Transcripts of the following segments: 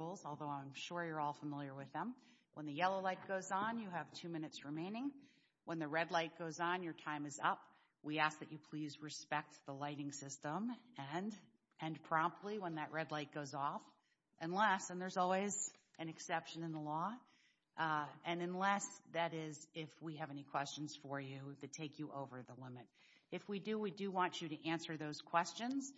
rules, although I'm sure you're all familiar with them. When the yellow light goes on, you have two minutes remaining. When the red light goes on, your time is up. We ask that you please respect the lighting system and end promptly when that red light goes off, unless, and there's always an exception in the law, and unless that is if we have any questions for you that take you over the limit. If we do, we do want you to answer those questions.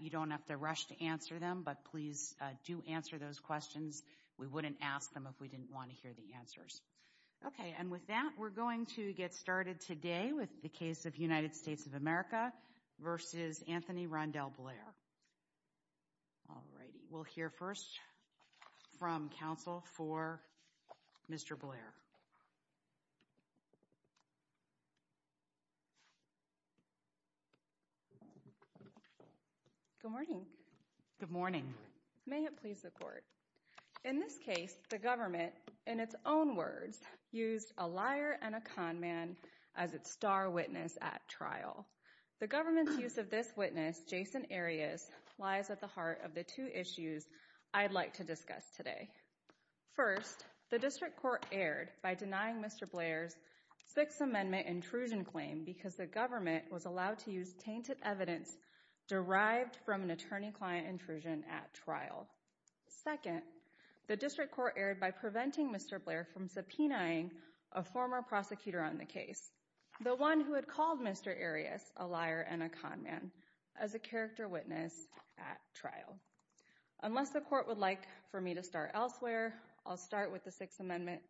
You don't have to rush to answer them, but please do answer those questions. We wouldn't ask them if we didn't want to hear the answers. Okay, and with that, we're going to get started today with the case of United States of America v. Anthony Rondell Blair. All righty, we'll hear first from counsel for Mr. Blair. Good morning. Good morning. May it please the court. In this case, the government, in its own words, used a liar and a con man as its star witness at trial. The government's use of this witness, Jason Arias, lies at the heart of the two issues I'd like to discuss today. First, the district court erred by denying Mr. Blair's Sixth Amendment intrusion claim because the government was allowed to use tainted evidence derived from an attorney-client intrusion at trial. Second, the district court erred by preventing Mr. Blair from subpoenaing a former prosecutor on case, the one who had called Mr. Arias a liar and a con man, as a character witness at trial. Unless the court would like for me to start elsewhere, I'll start with the Sixth Amendment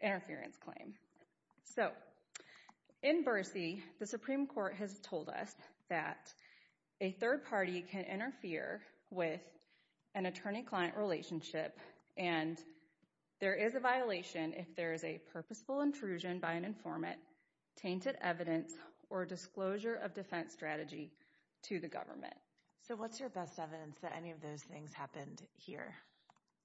interference claim. So, in Bercy, the Supreme Court has told us that a third party can interfere with an attorney-client relationship, and there is a violation if there is a purposeful intrusion by an informant, tainted evidence, or disclosure of defense strategy to the government. So, what's your best evidence that any of those things happened here?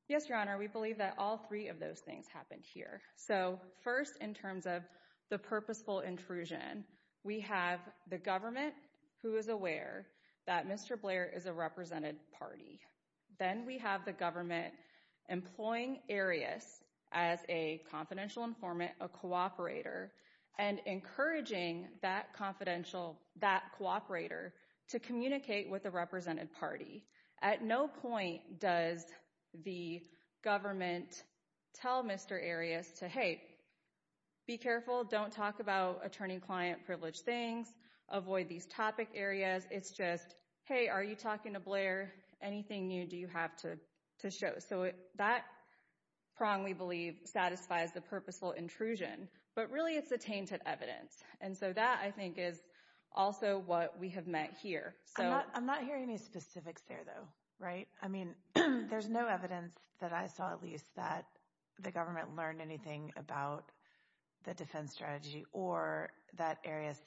Yes, Your Honor, we believe that all three of those things happened here. So, first, in terms of the purposeful intrusion, we have the government, who is aware that Mr. Blair is a represented party. Then we have the employing Arias as a confidential informant, a cooperator, and encouraging that cooperator to communicate with the represented party. At no point does the government tell Mr. Arias to, hey, be careful, don't talk about attorney-client privilege things, avoid these topic areas. It's just, hey, are you talking to Blair? Anything new do you have to show? So, that prong, we believe, satisfies the purposeful intrusion, but really, it's the tainted evidence. And so, that, I think, is also what we have met here. I'm not hearing any specifics there, though, right? I mean, there's no evidence that I saw, at least, that the government learned anything about the defense strategy or that Arias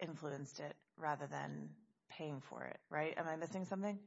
influenced it rather than paying for it, right? Am I missing something?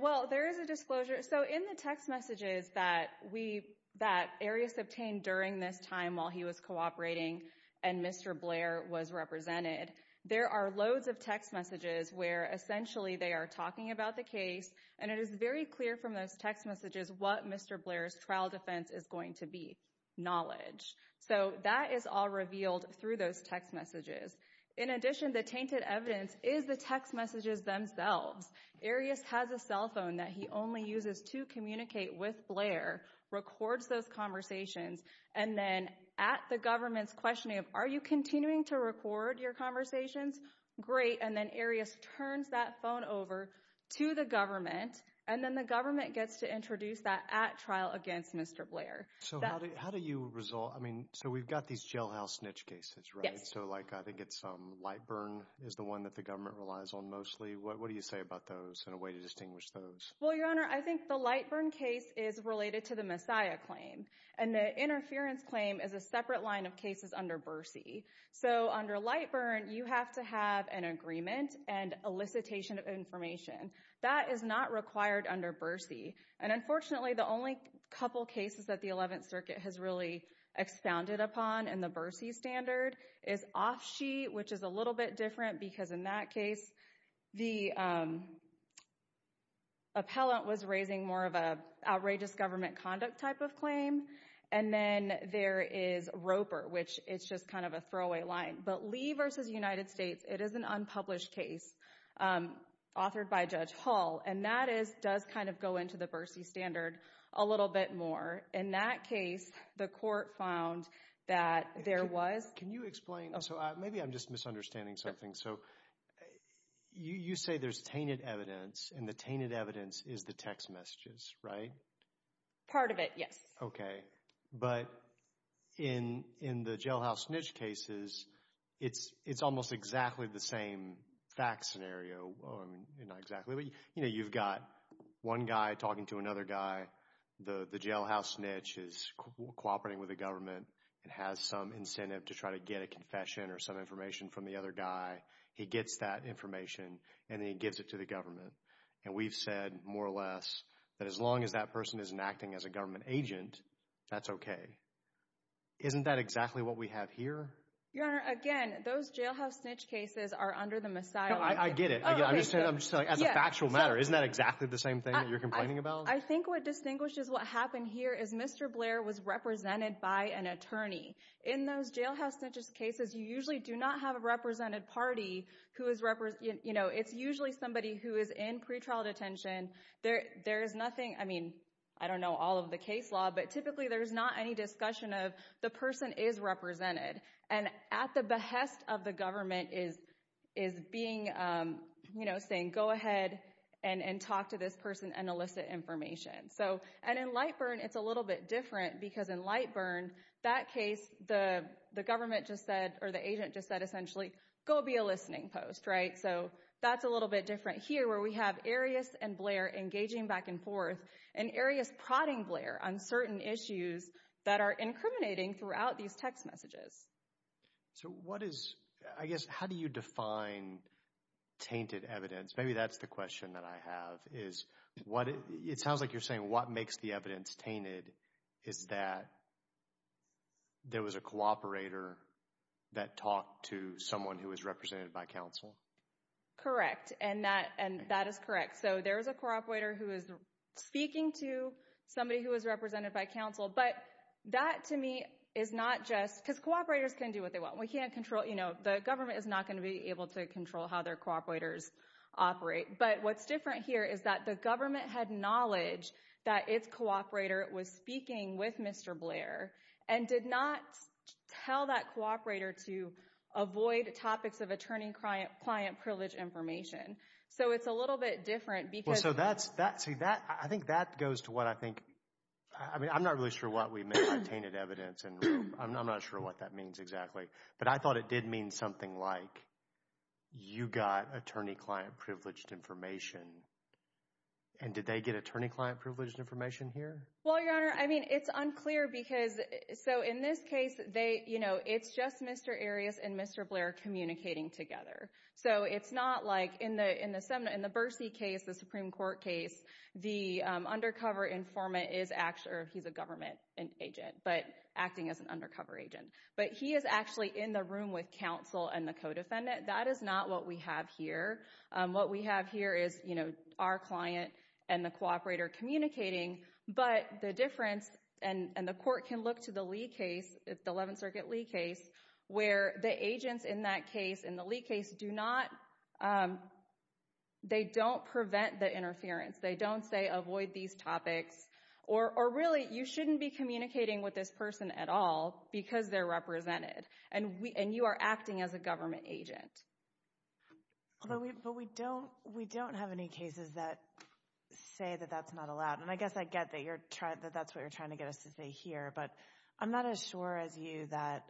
Well, there is a disclosure. So, in the text messages that we, that Arias obtained during this time while he was cooperating and Mr. Blair was represented, there are loads of text messages where, essentially, they are talking about the case. And it is very clear from those messages what Mr. Blair's trial defense is going to be, knowledge. So, that is all revealed through those text messages. In addition, the tainted evidence is the text messages themselves. Arias has a cell phone that he only uses to communicate with Blair, records those conversations, and then, at the government's questioning of, are you continuing to record your conversations? Great. And then, Arias turns that phone over to the government, and then, the government gets to introduce that at trial against Mr. Blair. So, how do you resolve, I mean, so, we've got these jailhouse snitch cases, right? Yes. So, like, I think it's Lightburn is the one that the government relies on mostly. What do you say about those and a way to distinguish those? Well, Your Honor, I think the Lightburn case is related to the Messiah claim. And the interference claim is a separate line of an agreement and elicitation of information. That is not required under Bercy. And unfortunately, the only couple cases that the 11th Circuit has really expounded upon in the Bercy standard is Offsheet, which is a little bit different because, in that case, the appellant was raising more of an outrageous government conduct type of claim. And then, there is Roper, which it's just kind of a throwaway line. But Lee versus United States, it is an unpublished case authored by Judge Hall. And that does kind of go into the Bercy standard a little bit more. In that case, the court found that there was... Can you explain? So, maybe I'm just misunderstanding something. So, you say there's tainted evidence, and the tainted evidence is the text messages, right? Part of it, yes. Okay. But in the Jailhouse Niche cases, it's almost exactly the same fact scenario. You know, you've got one guy talking to another guy. The Jailhouse Niche is cooperating with the government and has some incentive to try to get a confession or some information from the other guy. He gets that information, and then he gives it to the government. And we've said, more or less, that as long as that person isn't acting as a government agent, that's okay. Isn't that exactly what we have here? Your Honor, again, those Jailhouse Niche cases are under the Messiah... I get it. I'm just saying, as a factual matter, isn't that exactly the same thing that you're complaining about? I think what distinguishes what happened here is Mr. Blair was represented by an attorney. In those Jailhouse Niche cases, you usually do not have a represented party who is... It's usually somebody who is in pretrial detention. There's nothing... I mean, I don't know all of the case law, but typically there's not any discussion of the person is represented. And at the behest of the government is being, you know, saying, go ahead and talk to this person and elicit information. And in Lightburn, it's a little bit different because in Lightburn, that case, the government just said, or the agent just said, essentially, go be a listening post, right? So that's a little bit different here where we have Arias and Blair engaging back and forth, and Arias prodding Blair on certain issues that are incriminating throughout these text messages. So what is... I guess, how do you define tainted evidence? Maybe that's the question that I have, is what... It sounds like you're saying what makes the evidence tainted is that there was a cooperator that talked to someone who was represented by counsel. Correct. And that is correct. So there was a cooperator who is speaking to somebody who was represented by counsel. But that, to me, is not just... Because cooperators can do what they want. We can't control... You know, the government is not going to be able to control how their cooperators operate. But what's different here is that the government had knowledge that its cooperator was speaking with Mr. Blair and did not tell that cooperator to avoid topics of client-privileged information. So it's a little bit different because... Well, so that's... See, I think that goes to what I think... I mean, I'm not really sure what we meant by tainted evidence, and I'm not sure what that means exactly. But I thought it did mean something like, you got attorney-client-privileged information. And did they get attorney-client privileged information here? Well, Your Honor, I mean, it's unclear because... So in this case, it's just Mr. Arias and Mr. Blair communicating together. So it's not like... In the Bursey case, the Supreme Court case, the undercover informant is actually... Or he's a government agent, but acting as an undercover agent. But he is actually in the room with counsel and the co-defendant. That is not what we have here. What we have here is our client and the cooperator communicating. But the difference... And the court can look to the Lee case, the Eleventh Circuit Lee case, where the agents in that case, in the Lee case, do not... They don't prevent the interference. They don't say, avoid these topics. Or really, you shouldn't be communicating with this person at all because they're represented. And you are as a government agent. But we don't have any cases that say that that's not allowed. And I guess I get that that's what you're trying to get us to say here. But I'm not as sure as you that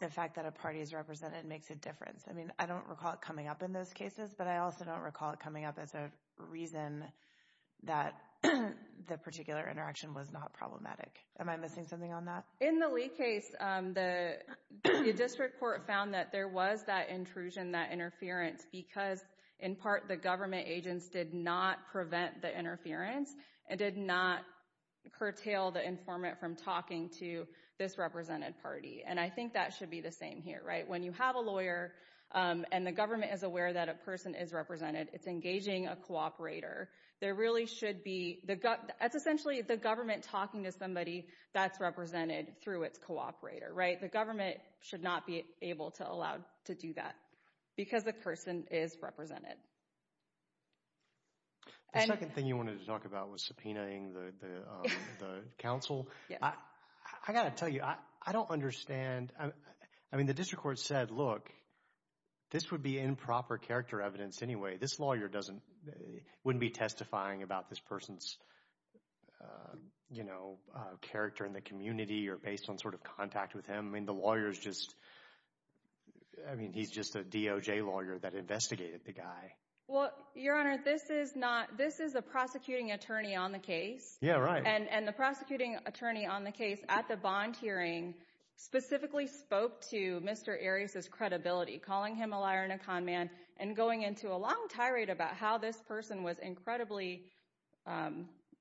the fact that a party is represented makes a difference. I mean, I don't recall it coming up in those cases. But I also don't recall it coming up as a reason that the particular interaction was not problematic. Am I missing something on that? In the Lee case, the District Court found that there was that intrusion, that interference, because, in part, the government agents did not prevent the interference and did not curtail the informant from talking to this represented party. And I think that should be the same here, right? When you have a lawyer and the government is aware that a person is represented, it's engaging a cooperator. There really should be... That's essentially the government talking to somebody that's represented through its cooperator, right? The government should not be able to allow to do that because the person is represented. The second thing you wanted to talk about was subpoenaing the counsel. I got to tell you, I don't understand. I mean, the District Court said, look, this would be improper character evidence anyway. This lawyer wouldn't be testifying about this person's, you know, character in the community or based on sort of contact with him. I mean, the lawyer's just... I mean, he's just a DOJ lawyer that investigated the guy. Well, Your Honor, this is not... This is a prosecuting attorney on the case. Yeah, right. And the prosecuting attorney on the case at the bond hearing specifically spoke to Mr. Arias' credibility, calling him a liar and a conman and going into a long tirade about how this person was incredibly...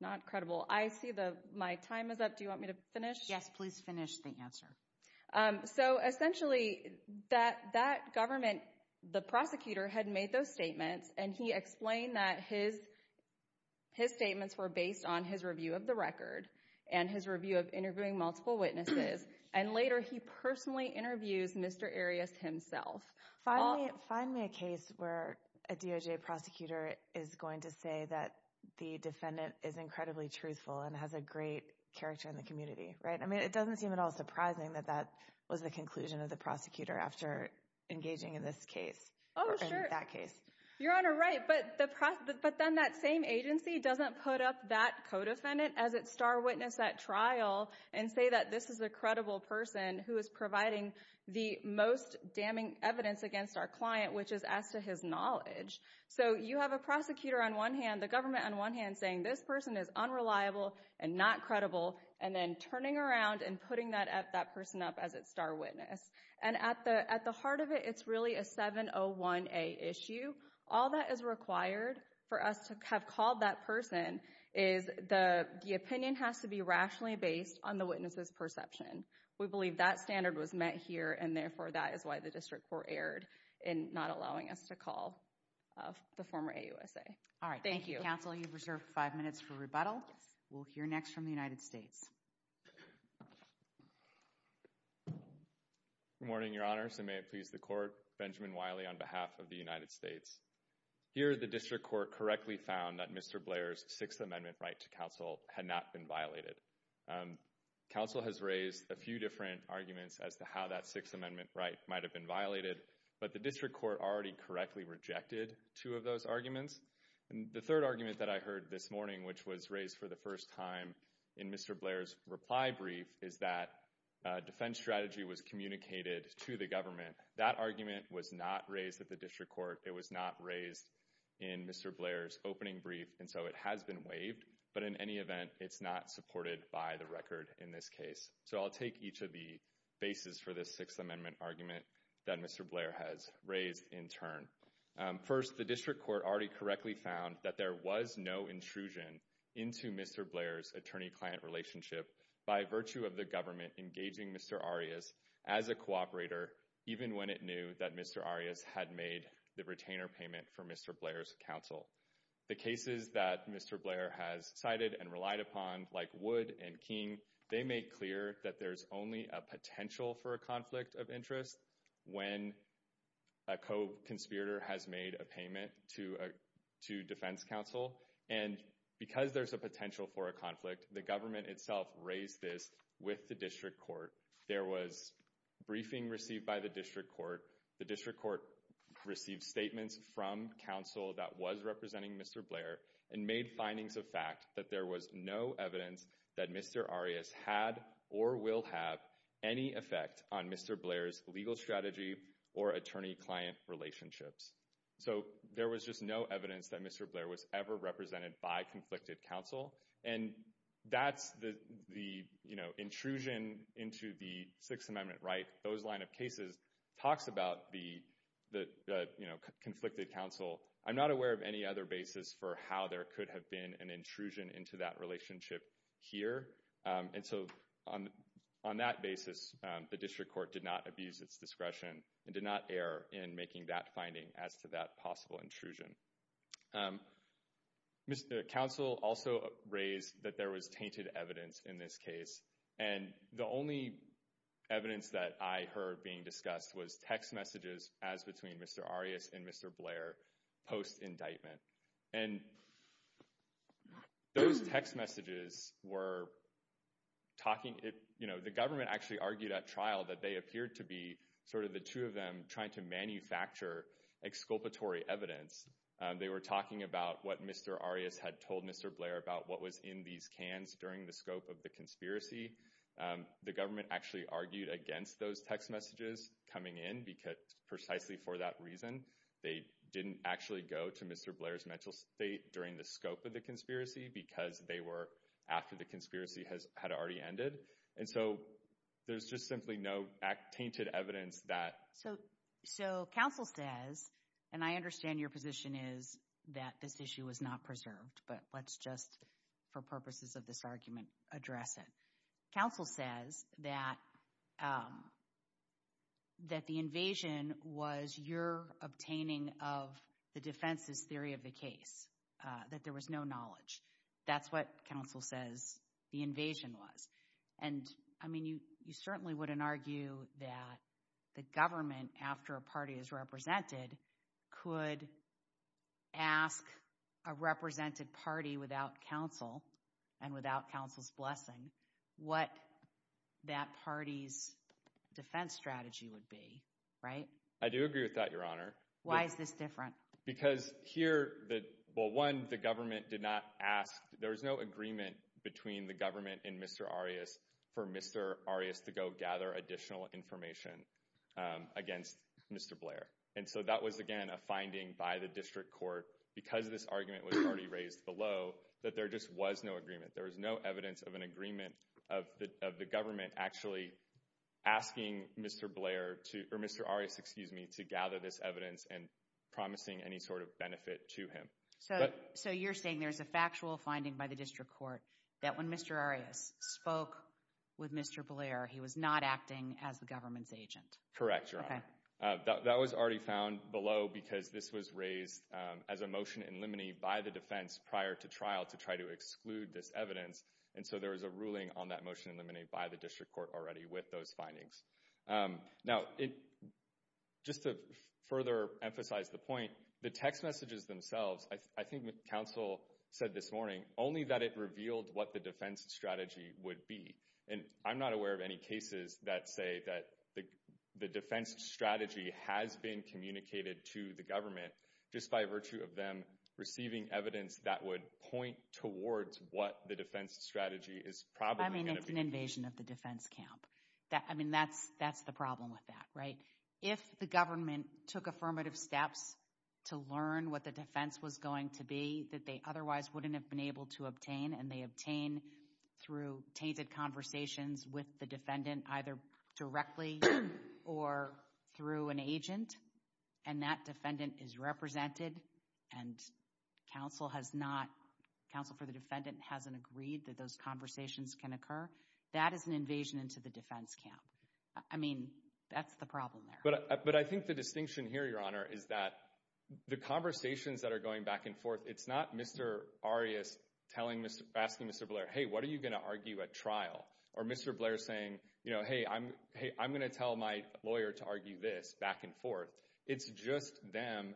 Not credible. I see my time is up. Do you want me to finish? Yes, please finish the answer. So essentially, that government, the prosecutor had made those statements, and he explained that his statements were based on his review of the record and his review of interviewing multiple witnesses. And later, he personally interviews Mr. Arias himself. Find me a case where a DOJ prosecutor is going to say that the defendant is incredibly truthful and has a great character in the community, right? I mean, it doesn't seem at all surprising that that was the conclusion of the prosecutor after engaging in this case or in that case. Your Honor, right. But then that same agency doesn't put up that co-defendant as its star witness at trial and say that this is a credible person who is providing the most damning evidence against our client, which is as to his knowledge. So you have a prosecutor on one hand, the government on one hand, saying this person is unreliable and not credible, and then turning around and putting that person up as its star witness. And at the heart of it, it's really a 701A issue. All that is required for us to have called that person is the opinion has to be rationally based on the witness's perception. We believe that standard was met here, and therefore that is why the District Court erred in not allowing us to call the former AUSA. All right. Thank you. Counsel, you've reserved five minutes for rebuttal. We'll hear next from the United States. Good morning, Your Honors, and may it please the Court. Benjamin Wiley on behalf of the United States. Here, the District Court correctly found that Mr. Blair's Sixth Amendment right to counsel had not been violated. Counsel has raised a few different arguments as to how that Sixth Amendment might have been violated, but the District Court already correctly rejected two of those arguments. And the third argument that I heard this morning, which was raised for the first time in Mr. Blair's reply brief, is that defense strategy was communicated to the government. That argument was not raised at the District Court. It was not raised in Mr. Blair's opening brief, and so it has been waived. But in any event, it's not supported by the record in this case. So I'll take each of the bases for this Sixth Amendment argument that Mr. Blair has raised in turn. First, the District Court already correctly found that there was no intrusion into Mr. Blair's attorney-client relationship by virtue of the government engaging Mr. Arias as a cooperator, even when it knew that Mr. Arias had made the retainer payment for Mr. Blair's counsel. The cases that Mr. Blair has cited and relied upon, like Wood and King, they make clear that there's only a potential for a conflict of interest when a co-conspirator has made a payment to defense counsel. And because there's a potential for a conflict, the government itself raised this with the District Court. There was briefing received by the District Court. The District Court received statements from counsel that was representing Mr. Blair and made findings of that there was no evidence that Mr. Arias had or will have any effect on Mr. Blair's legal strategy or attorney-client relationships. So there was just no evidence that Mr. Blair was ever represented by conflicted counsel. And that's the, you know, intrusion into the Sixth Amendment, right? Those line of cases talks about the, you know, conflicted counsel. I'm not aware of any other basis for how there could have been an intrusion into that relationship here. And so on that basis, the District Court did not abuse its discretion and did not err in making that finding as to that possible intrusion. Mr. Counsel also raised that there was tainted evidence in this case. And the only evidence that I heard being discussed was text messages as between Mr. Arias and Mr. Blair post-indictment. And those text messages were talking, you know, the government actually argued at trial that they appeared to be sort of the two of them trying to manufacture exculpatory evidence. They were talking about what Mr. Arias had told Mr. Blair about what was in these cans during the scope of the conspiracy. The government actually argued against those text messages coming in precisely for that reason. They didn't actually go to Mr. Blair's mental state during the scope of the conspiracy because they were after the conspiracy had already ended. And so there's just simply no tainted evidence that... So counsel says, and I understand your position is that this issue was not preserved, but let's just, for purposes of this argument, address it. Counsel says that the invasion was your obtaining of the defense's theory of the case, that there was no knowledge. That's what counsel says the invasion was. And I mean, you certainly wouldn't argue that the government, after a party is represented, could ask a represented party without counsel and without counsel's blessing what that party's defense strategy would be, right? I do agree with that, Your Honor. Why is this different? Because here, well, one, the government did not ask, there was no agreement between the government and Mr. Arias for Mr. Arias to go gather additional information against Mr. Blair. And so that was, again, a finding by the district court. Because this argument was already raised below that there just was no agreement. There was no evidence of an agreement of the government actually asking Mr. Blair, or Mr. Arias, excuse me, to gather this evidence and promising any sort of benefit to him. So you're saying there's a factual finding by the district court that when Mr. Arias spoke with Mr. Blair, he was not acting as the government's agent? Correct, Your Honor. That was already found below because this was raised as a motion in limine by the defense prior to trial to try to exclude this evidence. And so there was a ruling on that motion in limine by the district court already with those findings. Now, just to further emphasize the point, the text messages themselves, I think counsel said this morning, only that it revealed what the defense strategy would be. And I'm not aware of any cases that say that the defense strategy has been communicated to the government just by virtue of them receiving evidence that would point towards what the defense strategy is probably going to be. I mean, it's an invasion of the defense camp. I mean, that's the problem with that, right? If the government took affirmative steps to learn what the defense was going to be that they otherwise wouldn't have been able to obtain, and they obtain through tainted conversations with the either directly or through an agent, and that defendant is represented and counsel has not, counsel for the defendant hasn't agreed that those conversations can occur, that is an invasion into the defense camp. I mean, that's the problem there. But I think the distinction here, Your Honor, is that the conversations that are going back and forth, it's not Mr. Arias asking Mr. Blair, hey, what are you going to argue at trial? Or Mr. Blair saying, hey, I'm going to tell my lawyer to argue this back and forth. It's just them,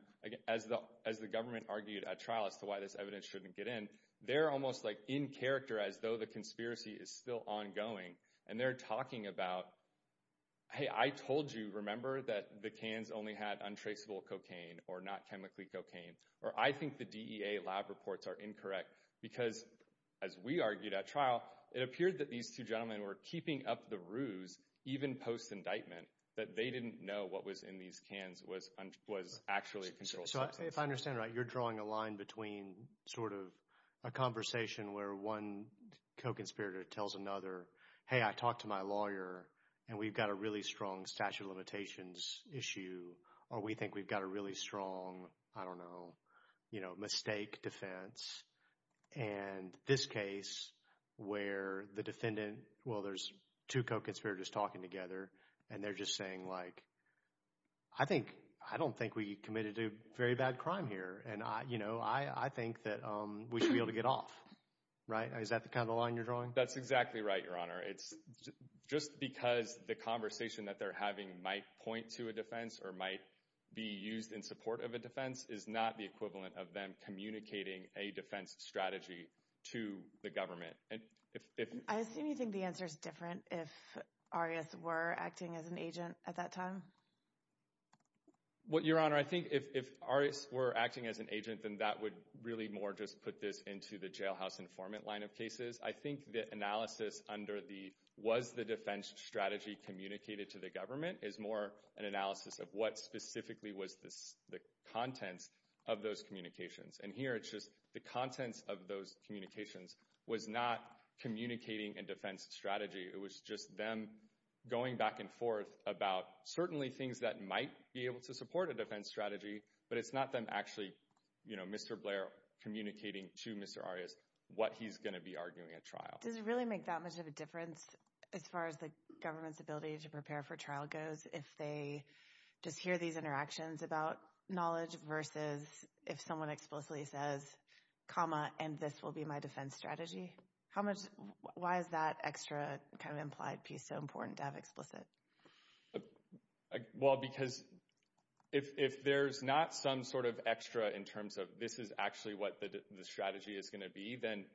as the government argued at trial as to why this evidence shouldn't get in, they're almost like in character as though the conspiracy is still ongoing. And they're talking about, hey, I told you, remember, that the cans only had untraceable cocaine or not chemically cocaine. Or I think the DEA lab reports are incorrect. Because as we argued at trial, it appeared that these two gentlemen were keeping up the ruse, even post-indictment, that they didn't know what was in these cans was actually controlled. So if I understand right, you're drawing a line between sort of a conversation where one co-conspirator tells another, hey, I talked to my lawyer, and we've got a really strong statute of limitations issue, or we think we've got a really strong, I don't know, mistake defense. And this case where the defendant, well, there's two co-conspirators talking together, and they're just saying like, I don't think we committed a very bad crime here. And I think that we should be able to get off. Right? Is that the kind of line you're drawing? That's exactly right, Your Honor. It's just because the conversation that they're having might point to a defense or might be used in support of a defense is not the equivalent of them communicating a defense strategy to the government. I assume you think the answer is different if Arias were acting as an agent at that time? Well, Your Honor, I think if Arias were acting as an agent, then that would really more just put this into the jailhouse informant line of cases. I think the analysis under the, was the defense strategy communicated to the government is more an analysis of what specifically was the contents of those communications. And here it's just the contents of those communications was not communicating a defense strategy. It was just them going back and forth about certainly things that might be able to support a defense strategy, but it's not them actually, you know, Mr. Blair communicating to Mr. Arias what he's going to be arguing at trial. Does it really make that much of a difference as far as the government's ability to prepare for trial goes if they just hear these interactions about knowledge versus if someone explicitly says, comma, and this will be my defense strategy? How much, why is that extra kind of implied piece so important to have explicit? Well, because if there's not some sort of extra in terms of this is actually what the strategy is going to be, then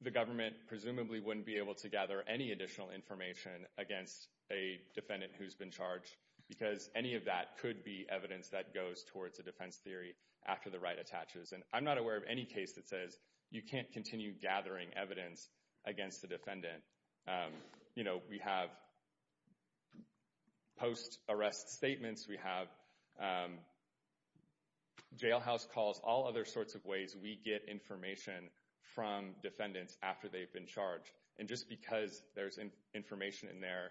the government presumably wouldn't be able to gather any additional information against a defendant who's been charged because any of that could be evidence that goes towards a defense theory after the right attaches. And I'm not aware of any case that says you can't continue gathering evidence against the defendant. You know, we have post-arrest statements, we have jailhouse calls, all other sorts of ways we get information from defendants after they've been charged. And just because there's information in there,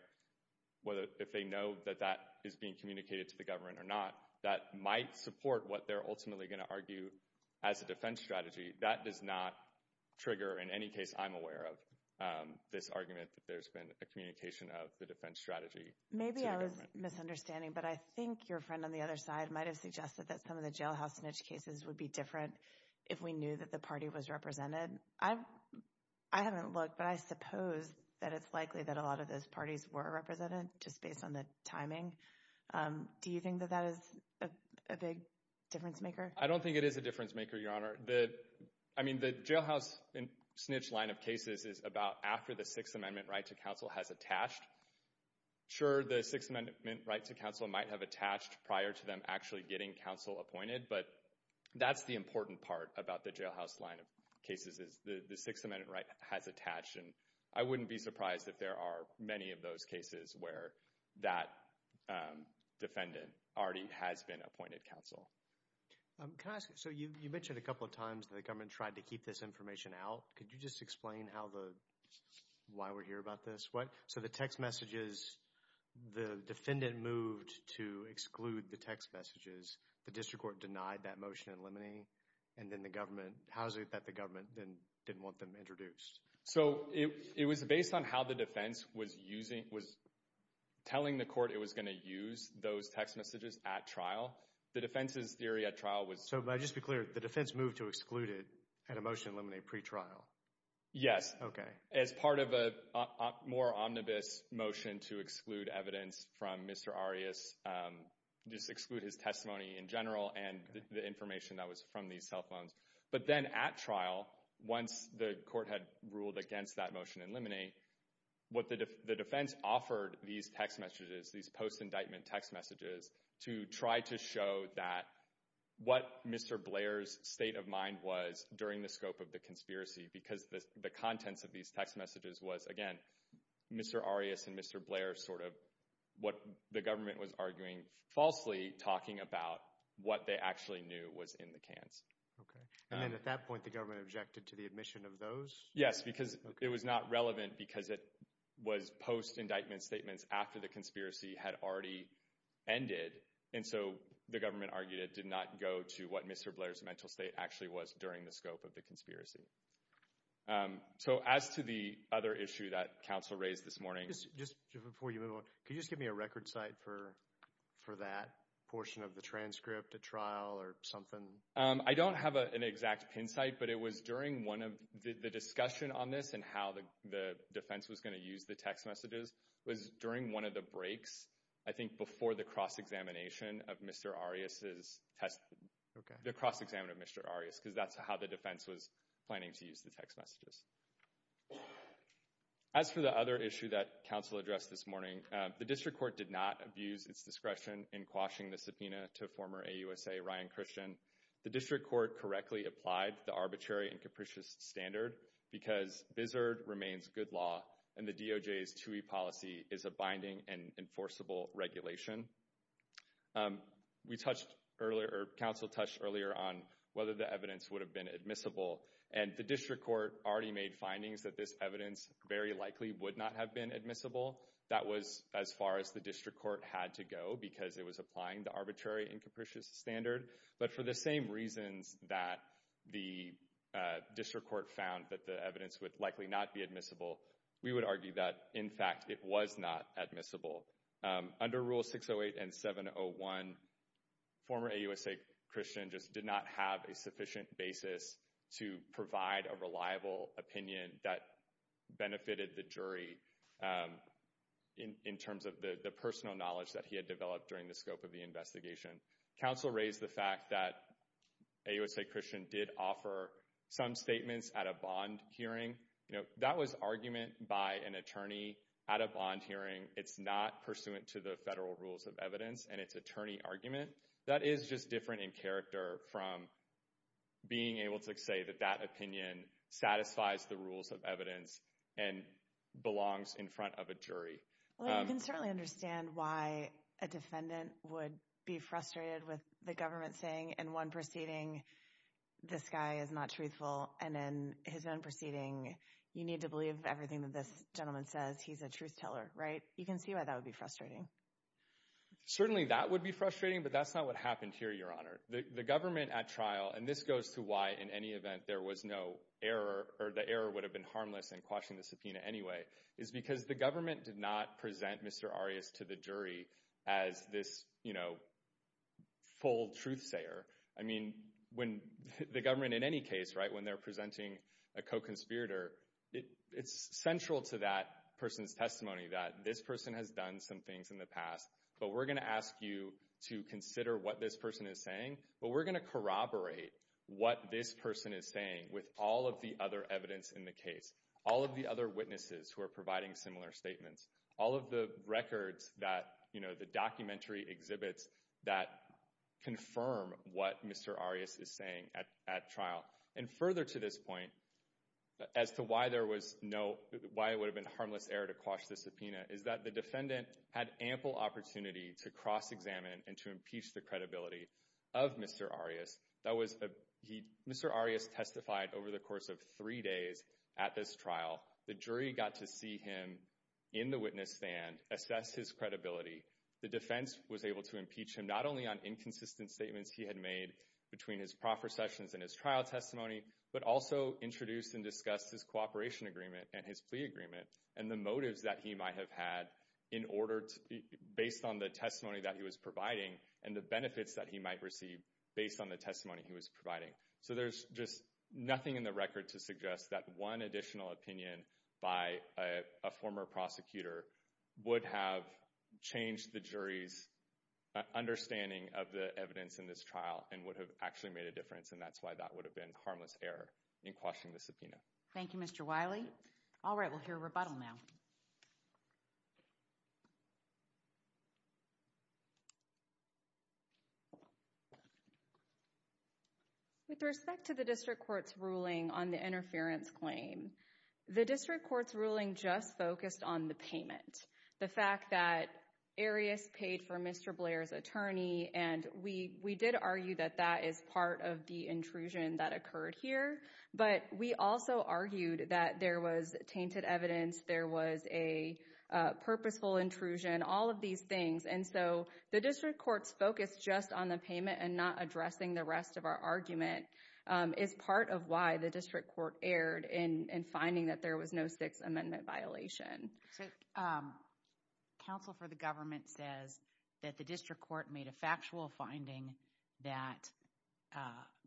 whether if they know that that is being communicated to the government or not, that might support what they're ultimately going to argue as a defense strategy. That does not trigger, in any case I'm aware of, this argument that there's been a communication of the defense strategy. Maybe I was misunderstanding, but I think your friend on the other side might have suggested that some of the jailhouse smidge cases would be different if we knew that the party was represented. I haven't looked, but I suppose that it's likely that a lot of those parties were represented, just based on the timing. Do you think that that is a big difference maker? I don't think it is a difference maker, Your Honor. I mean, the jailhouse smidge line of cases is about after the Sixth Amendment right to counsel has attached. Sure, the Sixth Amendment right to counsel might have attached prior to them actually getting counsel appointed, but that's the important part about the jailhouse line of cases, is the Sixth Amendment right has attached. And I wouldn't be surprised if there are many of those cases where that defendant already has been appointed counsel. Can I ask, so you mentioned a couple of times that the government tried to keep this information out. Could you just explain how the, why we're here about this? What, so the text messages, the defendant moved to exclude the text messages. The district court denied that motion in limine, and then the government, how is it that the government then didn't want them introduced? So, it was based on how the defense was using, was telling the court it was going to use those text messages at trial. The defense's theory at trial was... So, but just be clear, the defense moved to exclude it at a motion in limine pre-trial? Yes. Okay. As part of a more omnibus motion to exclude evidence from Mr. Arias, just exclude his testimony in general, and the information that was from these cell phones. But then at trial, once the court had ruled against that motion in limine, what the defense offered these text messages, these post-indictment text messages, to try to show that what Mr. Blair's state of mind was during the scope of the conspiracy, because the contents of these text messages was, again, Mr. Arias and Mr. Blair sort of, what the government was arguing falsely, talking about what they actually knew was in the cans. Okay. And then at that point, the government objected to the admission of those? Yes, because it was not relevant because it was post-indictment statements after the conspiracy had already ended. And so, the government argued it did not go to what Mr. Blair's mental state actually was during the scope of the conspiracy. So, as to the other issue that counsel raised this morning... Just before you move on, could you just give me a record site for that portion of the transcript at trial or something? I don't have an exact pin site, but it was during one of... The discussion on this and how the defense was going to use the text messages was during one of the breaks, I think, before the cross-examination of Mr. Arias's test... Okay. The cross-examination of Mr. Arias, because that's how the defense was planning to use the text messages. As for the other issue that counsel addressed this morning, the district court did not abuse its discretion in quashing the subpoena to former AUSA Ryan Christian. The district court correctly applied the arbitrary and capricious standard, because bizzard remains good law, and the DOJ's 2E policy is a binding and enforceable regulation. We touched earlier... Counsel touched earlier on whether the evidence would have been admissible, and the district court already made findings that this evidence very likely would not have been admissible. That was as far as the district court had to go, because it was applying the arbitrary and capricious standard. But for the same reasons that the district court found that the evidence would likely not be admissible, we would argue that, in fact, it was not admissible. Under Rule 608 and 701, former AUSA Christian just did not have a sufficient basis to provide a reliable opinion that benefited the jury in terms of the personal knowledge that he had developed during the scope of the investigation. Counsel raised the fact that AUSA Christian did offer some statements at a bond hearing. That was argument by an attorney at a bond hearing. It's not pursuant to the federal rules of evidence, and it's attorney argument. That is just different in character from being able to say that that opinion satisfies the rules of evidence and belongs in front of a jury. Well, you can certainly understand why a defendant would be frustrated with the government saying, in one proceeding, this guy is not truthful, and in his own proceeding, you need to believe everything that this gentleman says. He's a liar. You can see why that would be frustrating. Certainly that would be frustrating, but that's not what happened here, Your Honor. The government at trial, and this goes to why, in any event, there was no error, or the error would have been harmless in quashing the subpoena anyway, is because the government did not present Mr. Arias to the jury as this full truth-sayer. I mean, when the government, in any case, when they're presenting a co-conspirator, it's central to that person's testimony that this person has done some things in the past, but we're going to ask you to consider what this person is saying, but we're going to corroborate what this person is saying with all of the other evidence in the case, all of the other witnesses who are providing similar statements, all of the records that, you know, the documentary exhibits that confirm what Mr. Arias is saying at trial. And further to this point, as to why there was no, why it would have been harmless error to quash the subpoena, is that the defendant had ample opportunity to cross-examine and to impeach the credibility of Mr. Arias. Mr. Arias testified over the course of three days at this trial. The jury got to see him in the witness stand, assess his credibility. The defense was able to impeach him not only on inconsistent statements he had made between his proffer sessions and his trial testimony, but also introduced and discussed his cooperation agreement and his plea agreement and the motives that he might have had in order to, based on the testimony that he was providing and the benefits that he might receive based on the testimony he was providing. So there's just nothing in the record to suggest that one additional opinion by a former prosecutor would have changed the jury's understanding of the evidence in this trial and would have actually made a difference. And that's why that would have been harmless error in quashing the subpoena. Thank you, Mr. Wiley. All right, we'll hear a rebuttal now. With respect to the district court's ruling on the interference claim, the district court's ruling just focused on the payment. The fact that Arias paid for Mr. Blair's attorney and we did argue that that is part of the intrusion that occurred here, but we also argued that there was tainted evidence, there was a purposeful intrusion, all of these things. And so the district court's focus just on the payment and not addressing the rest of our argument is part of why the district court erred in finding that there was no Sixth Amendment violation. So counsel for the government says that the district court made a factual finding that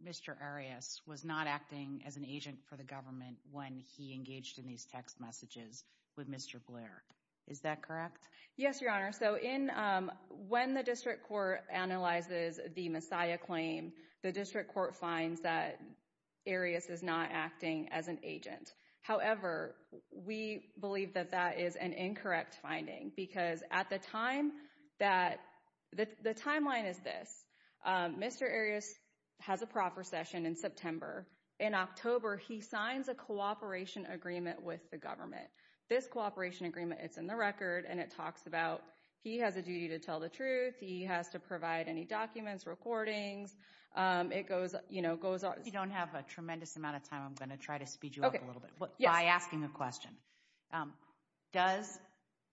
Mr. Arias was not acting as an agent for government when he engaged in these text messages with Mr. Blair. Is that correct? Yes, Your Honor. So when the district court analyzes the Messiah claim, the district court finds that Arias is not acting as an agent. However, we believe that that is an incorrect finding because at the time that, the timeline is this. Mr. Arias has a proper session in September. In October, he signs a cooperation agreement with the government. This cooperation agreement, it's in the record and it talks about he has a duty to tell the truth, he has to provide any documents, recordings, it goes, you know, goes on. You don't have a tremendous amount of time. I'm going to try to speed you up a little bit by asking a question. Does,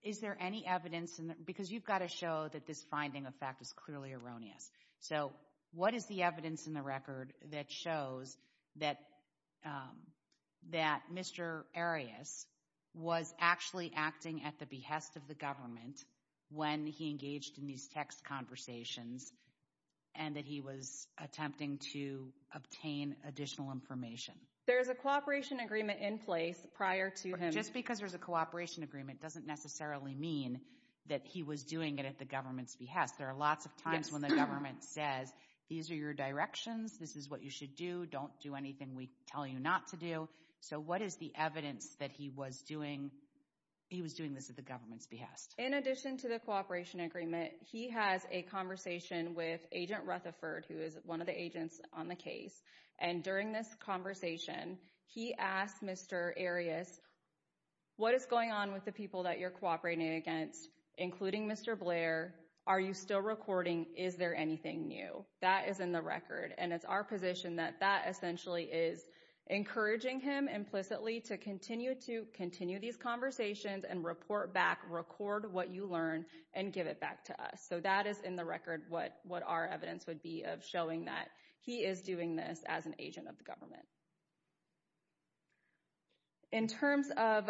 is there any evidence, because you've got to show that this finding of fact is clearly erroneous. So what is the evidence in the record that shows that Mr. Arias was actually acting at the behest of the government when he engaged in these text conversations and that he was attempting to obtain additional information? There is a cooperation agreement in place prior to him. Just because there's a cooperation agreement doesn't necessarily mean that he was doing it at the government's behest. There are lots of times when the government says, these are your directions, this is what you should do, don't do anything we tell you not to do. So what is the evidence that he was doing, he was doing this at the government's behest? In addition to the cooperation agreement, he has a conversation with Agent Rutherford, who is one of the agents on the case. And during this conversation, he asked Mr. Arias, what is going on with the people that you're cooperating against, including Mr. Blair? Are you still recording? Is there anything new? That is in the record, and it's our position that that essentially is encouraging him implicitly to continue these conversations and report back, record what you learn, and give it back to us. So that is in the record what our evidence would be of showing that he is doing this as an agent of the government. In terms of,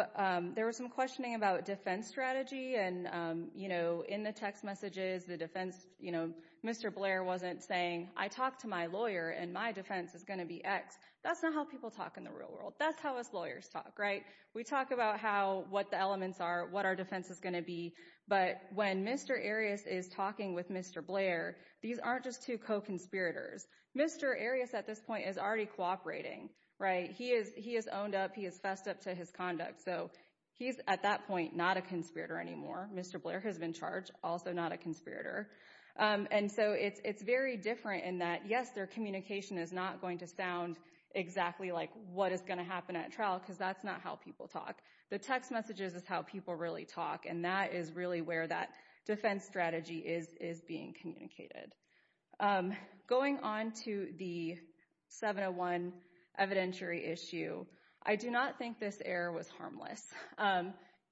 there was some questioning about defense strategy and, you know, in the text messages, the defense, you know, Mr. Blair wasn't saying, I talked to my lawyer and my defense is going to be X. That's not how people talk in the real world. That's how us lawyers talk, right? We talk about how, what the elements are, what our defense is going to be. But when Mr. Arias is talking with Mr. Blair, these aren't just two co-conspirators. Mr. Arias at this point is already cooperating, right? He is owned up, he is fessed up to his conduct. So he's at that point not a conspirator anymore. Mr. Blair has been charged, also not a conspirator. And so it's very different in that, yes, their communication is not going to sound exactly like what is going to happen at trial because that's not how people talk. The text messages is how people really talk, and that is really where that defense strategy is being communicated. Going on to the 701 evidentiary issue, I do not think this error was harmless.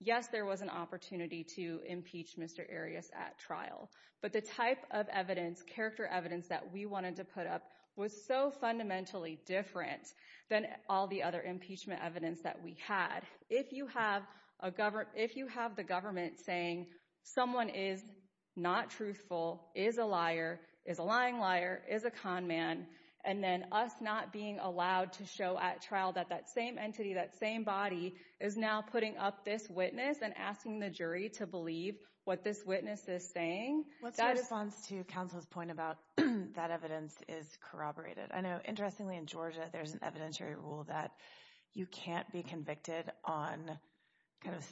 Yes, there was an opportunity to impeach Mr. Arias at trial, but the type of evidence, character evidence that we wanted to put up was so fundamentally different than all the other impeachment evidence that we had. If you have a government, if you have the government saying someone is not truthful, is a liar, is a lying liar, is a con man, and then us not being allowed to show at trial that that same entity, that same body is now putting up this witness and asking the jury to believe what this witness is saying. What's your response to counsel's point about that evidence is corroborated? I know interestingly in Georgia, there's an evidentiary rule that you can't be convicted on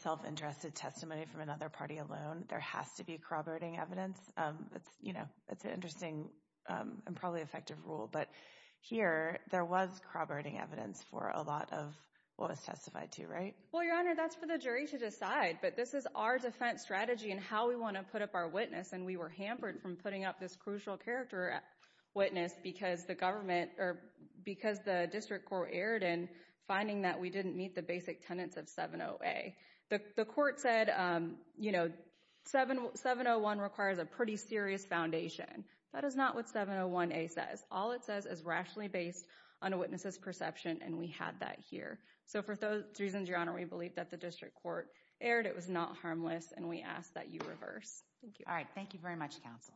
self-interested testimony from another party alone. There has to be corroborating evidence. That's an interesting and probably effective rule, but here there was corroborating evidence for a lot of what was testified to, right? Well, Your Honor, that's for the jury to decide, but this is our defense strategy and how we want to put up our witness, and we were hampered from putting up this crucial character witness because the district court erred in finding that we didn't meet the basic tenets of 70A. The court said, you know, 701 requires a pretty serious foundation. That is not what 701A says. All it says is rationally based on a witness's perception, and we had that here. So for those reasons, Your Honor, we believe that the district court erred. It was not harmless, and we ask that you reverse. All right. Thank you very much, counsel. Thank you.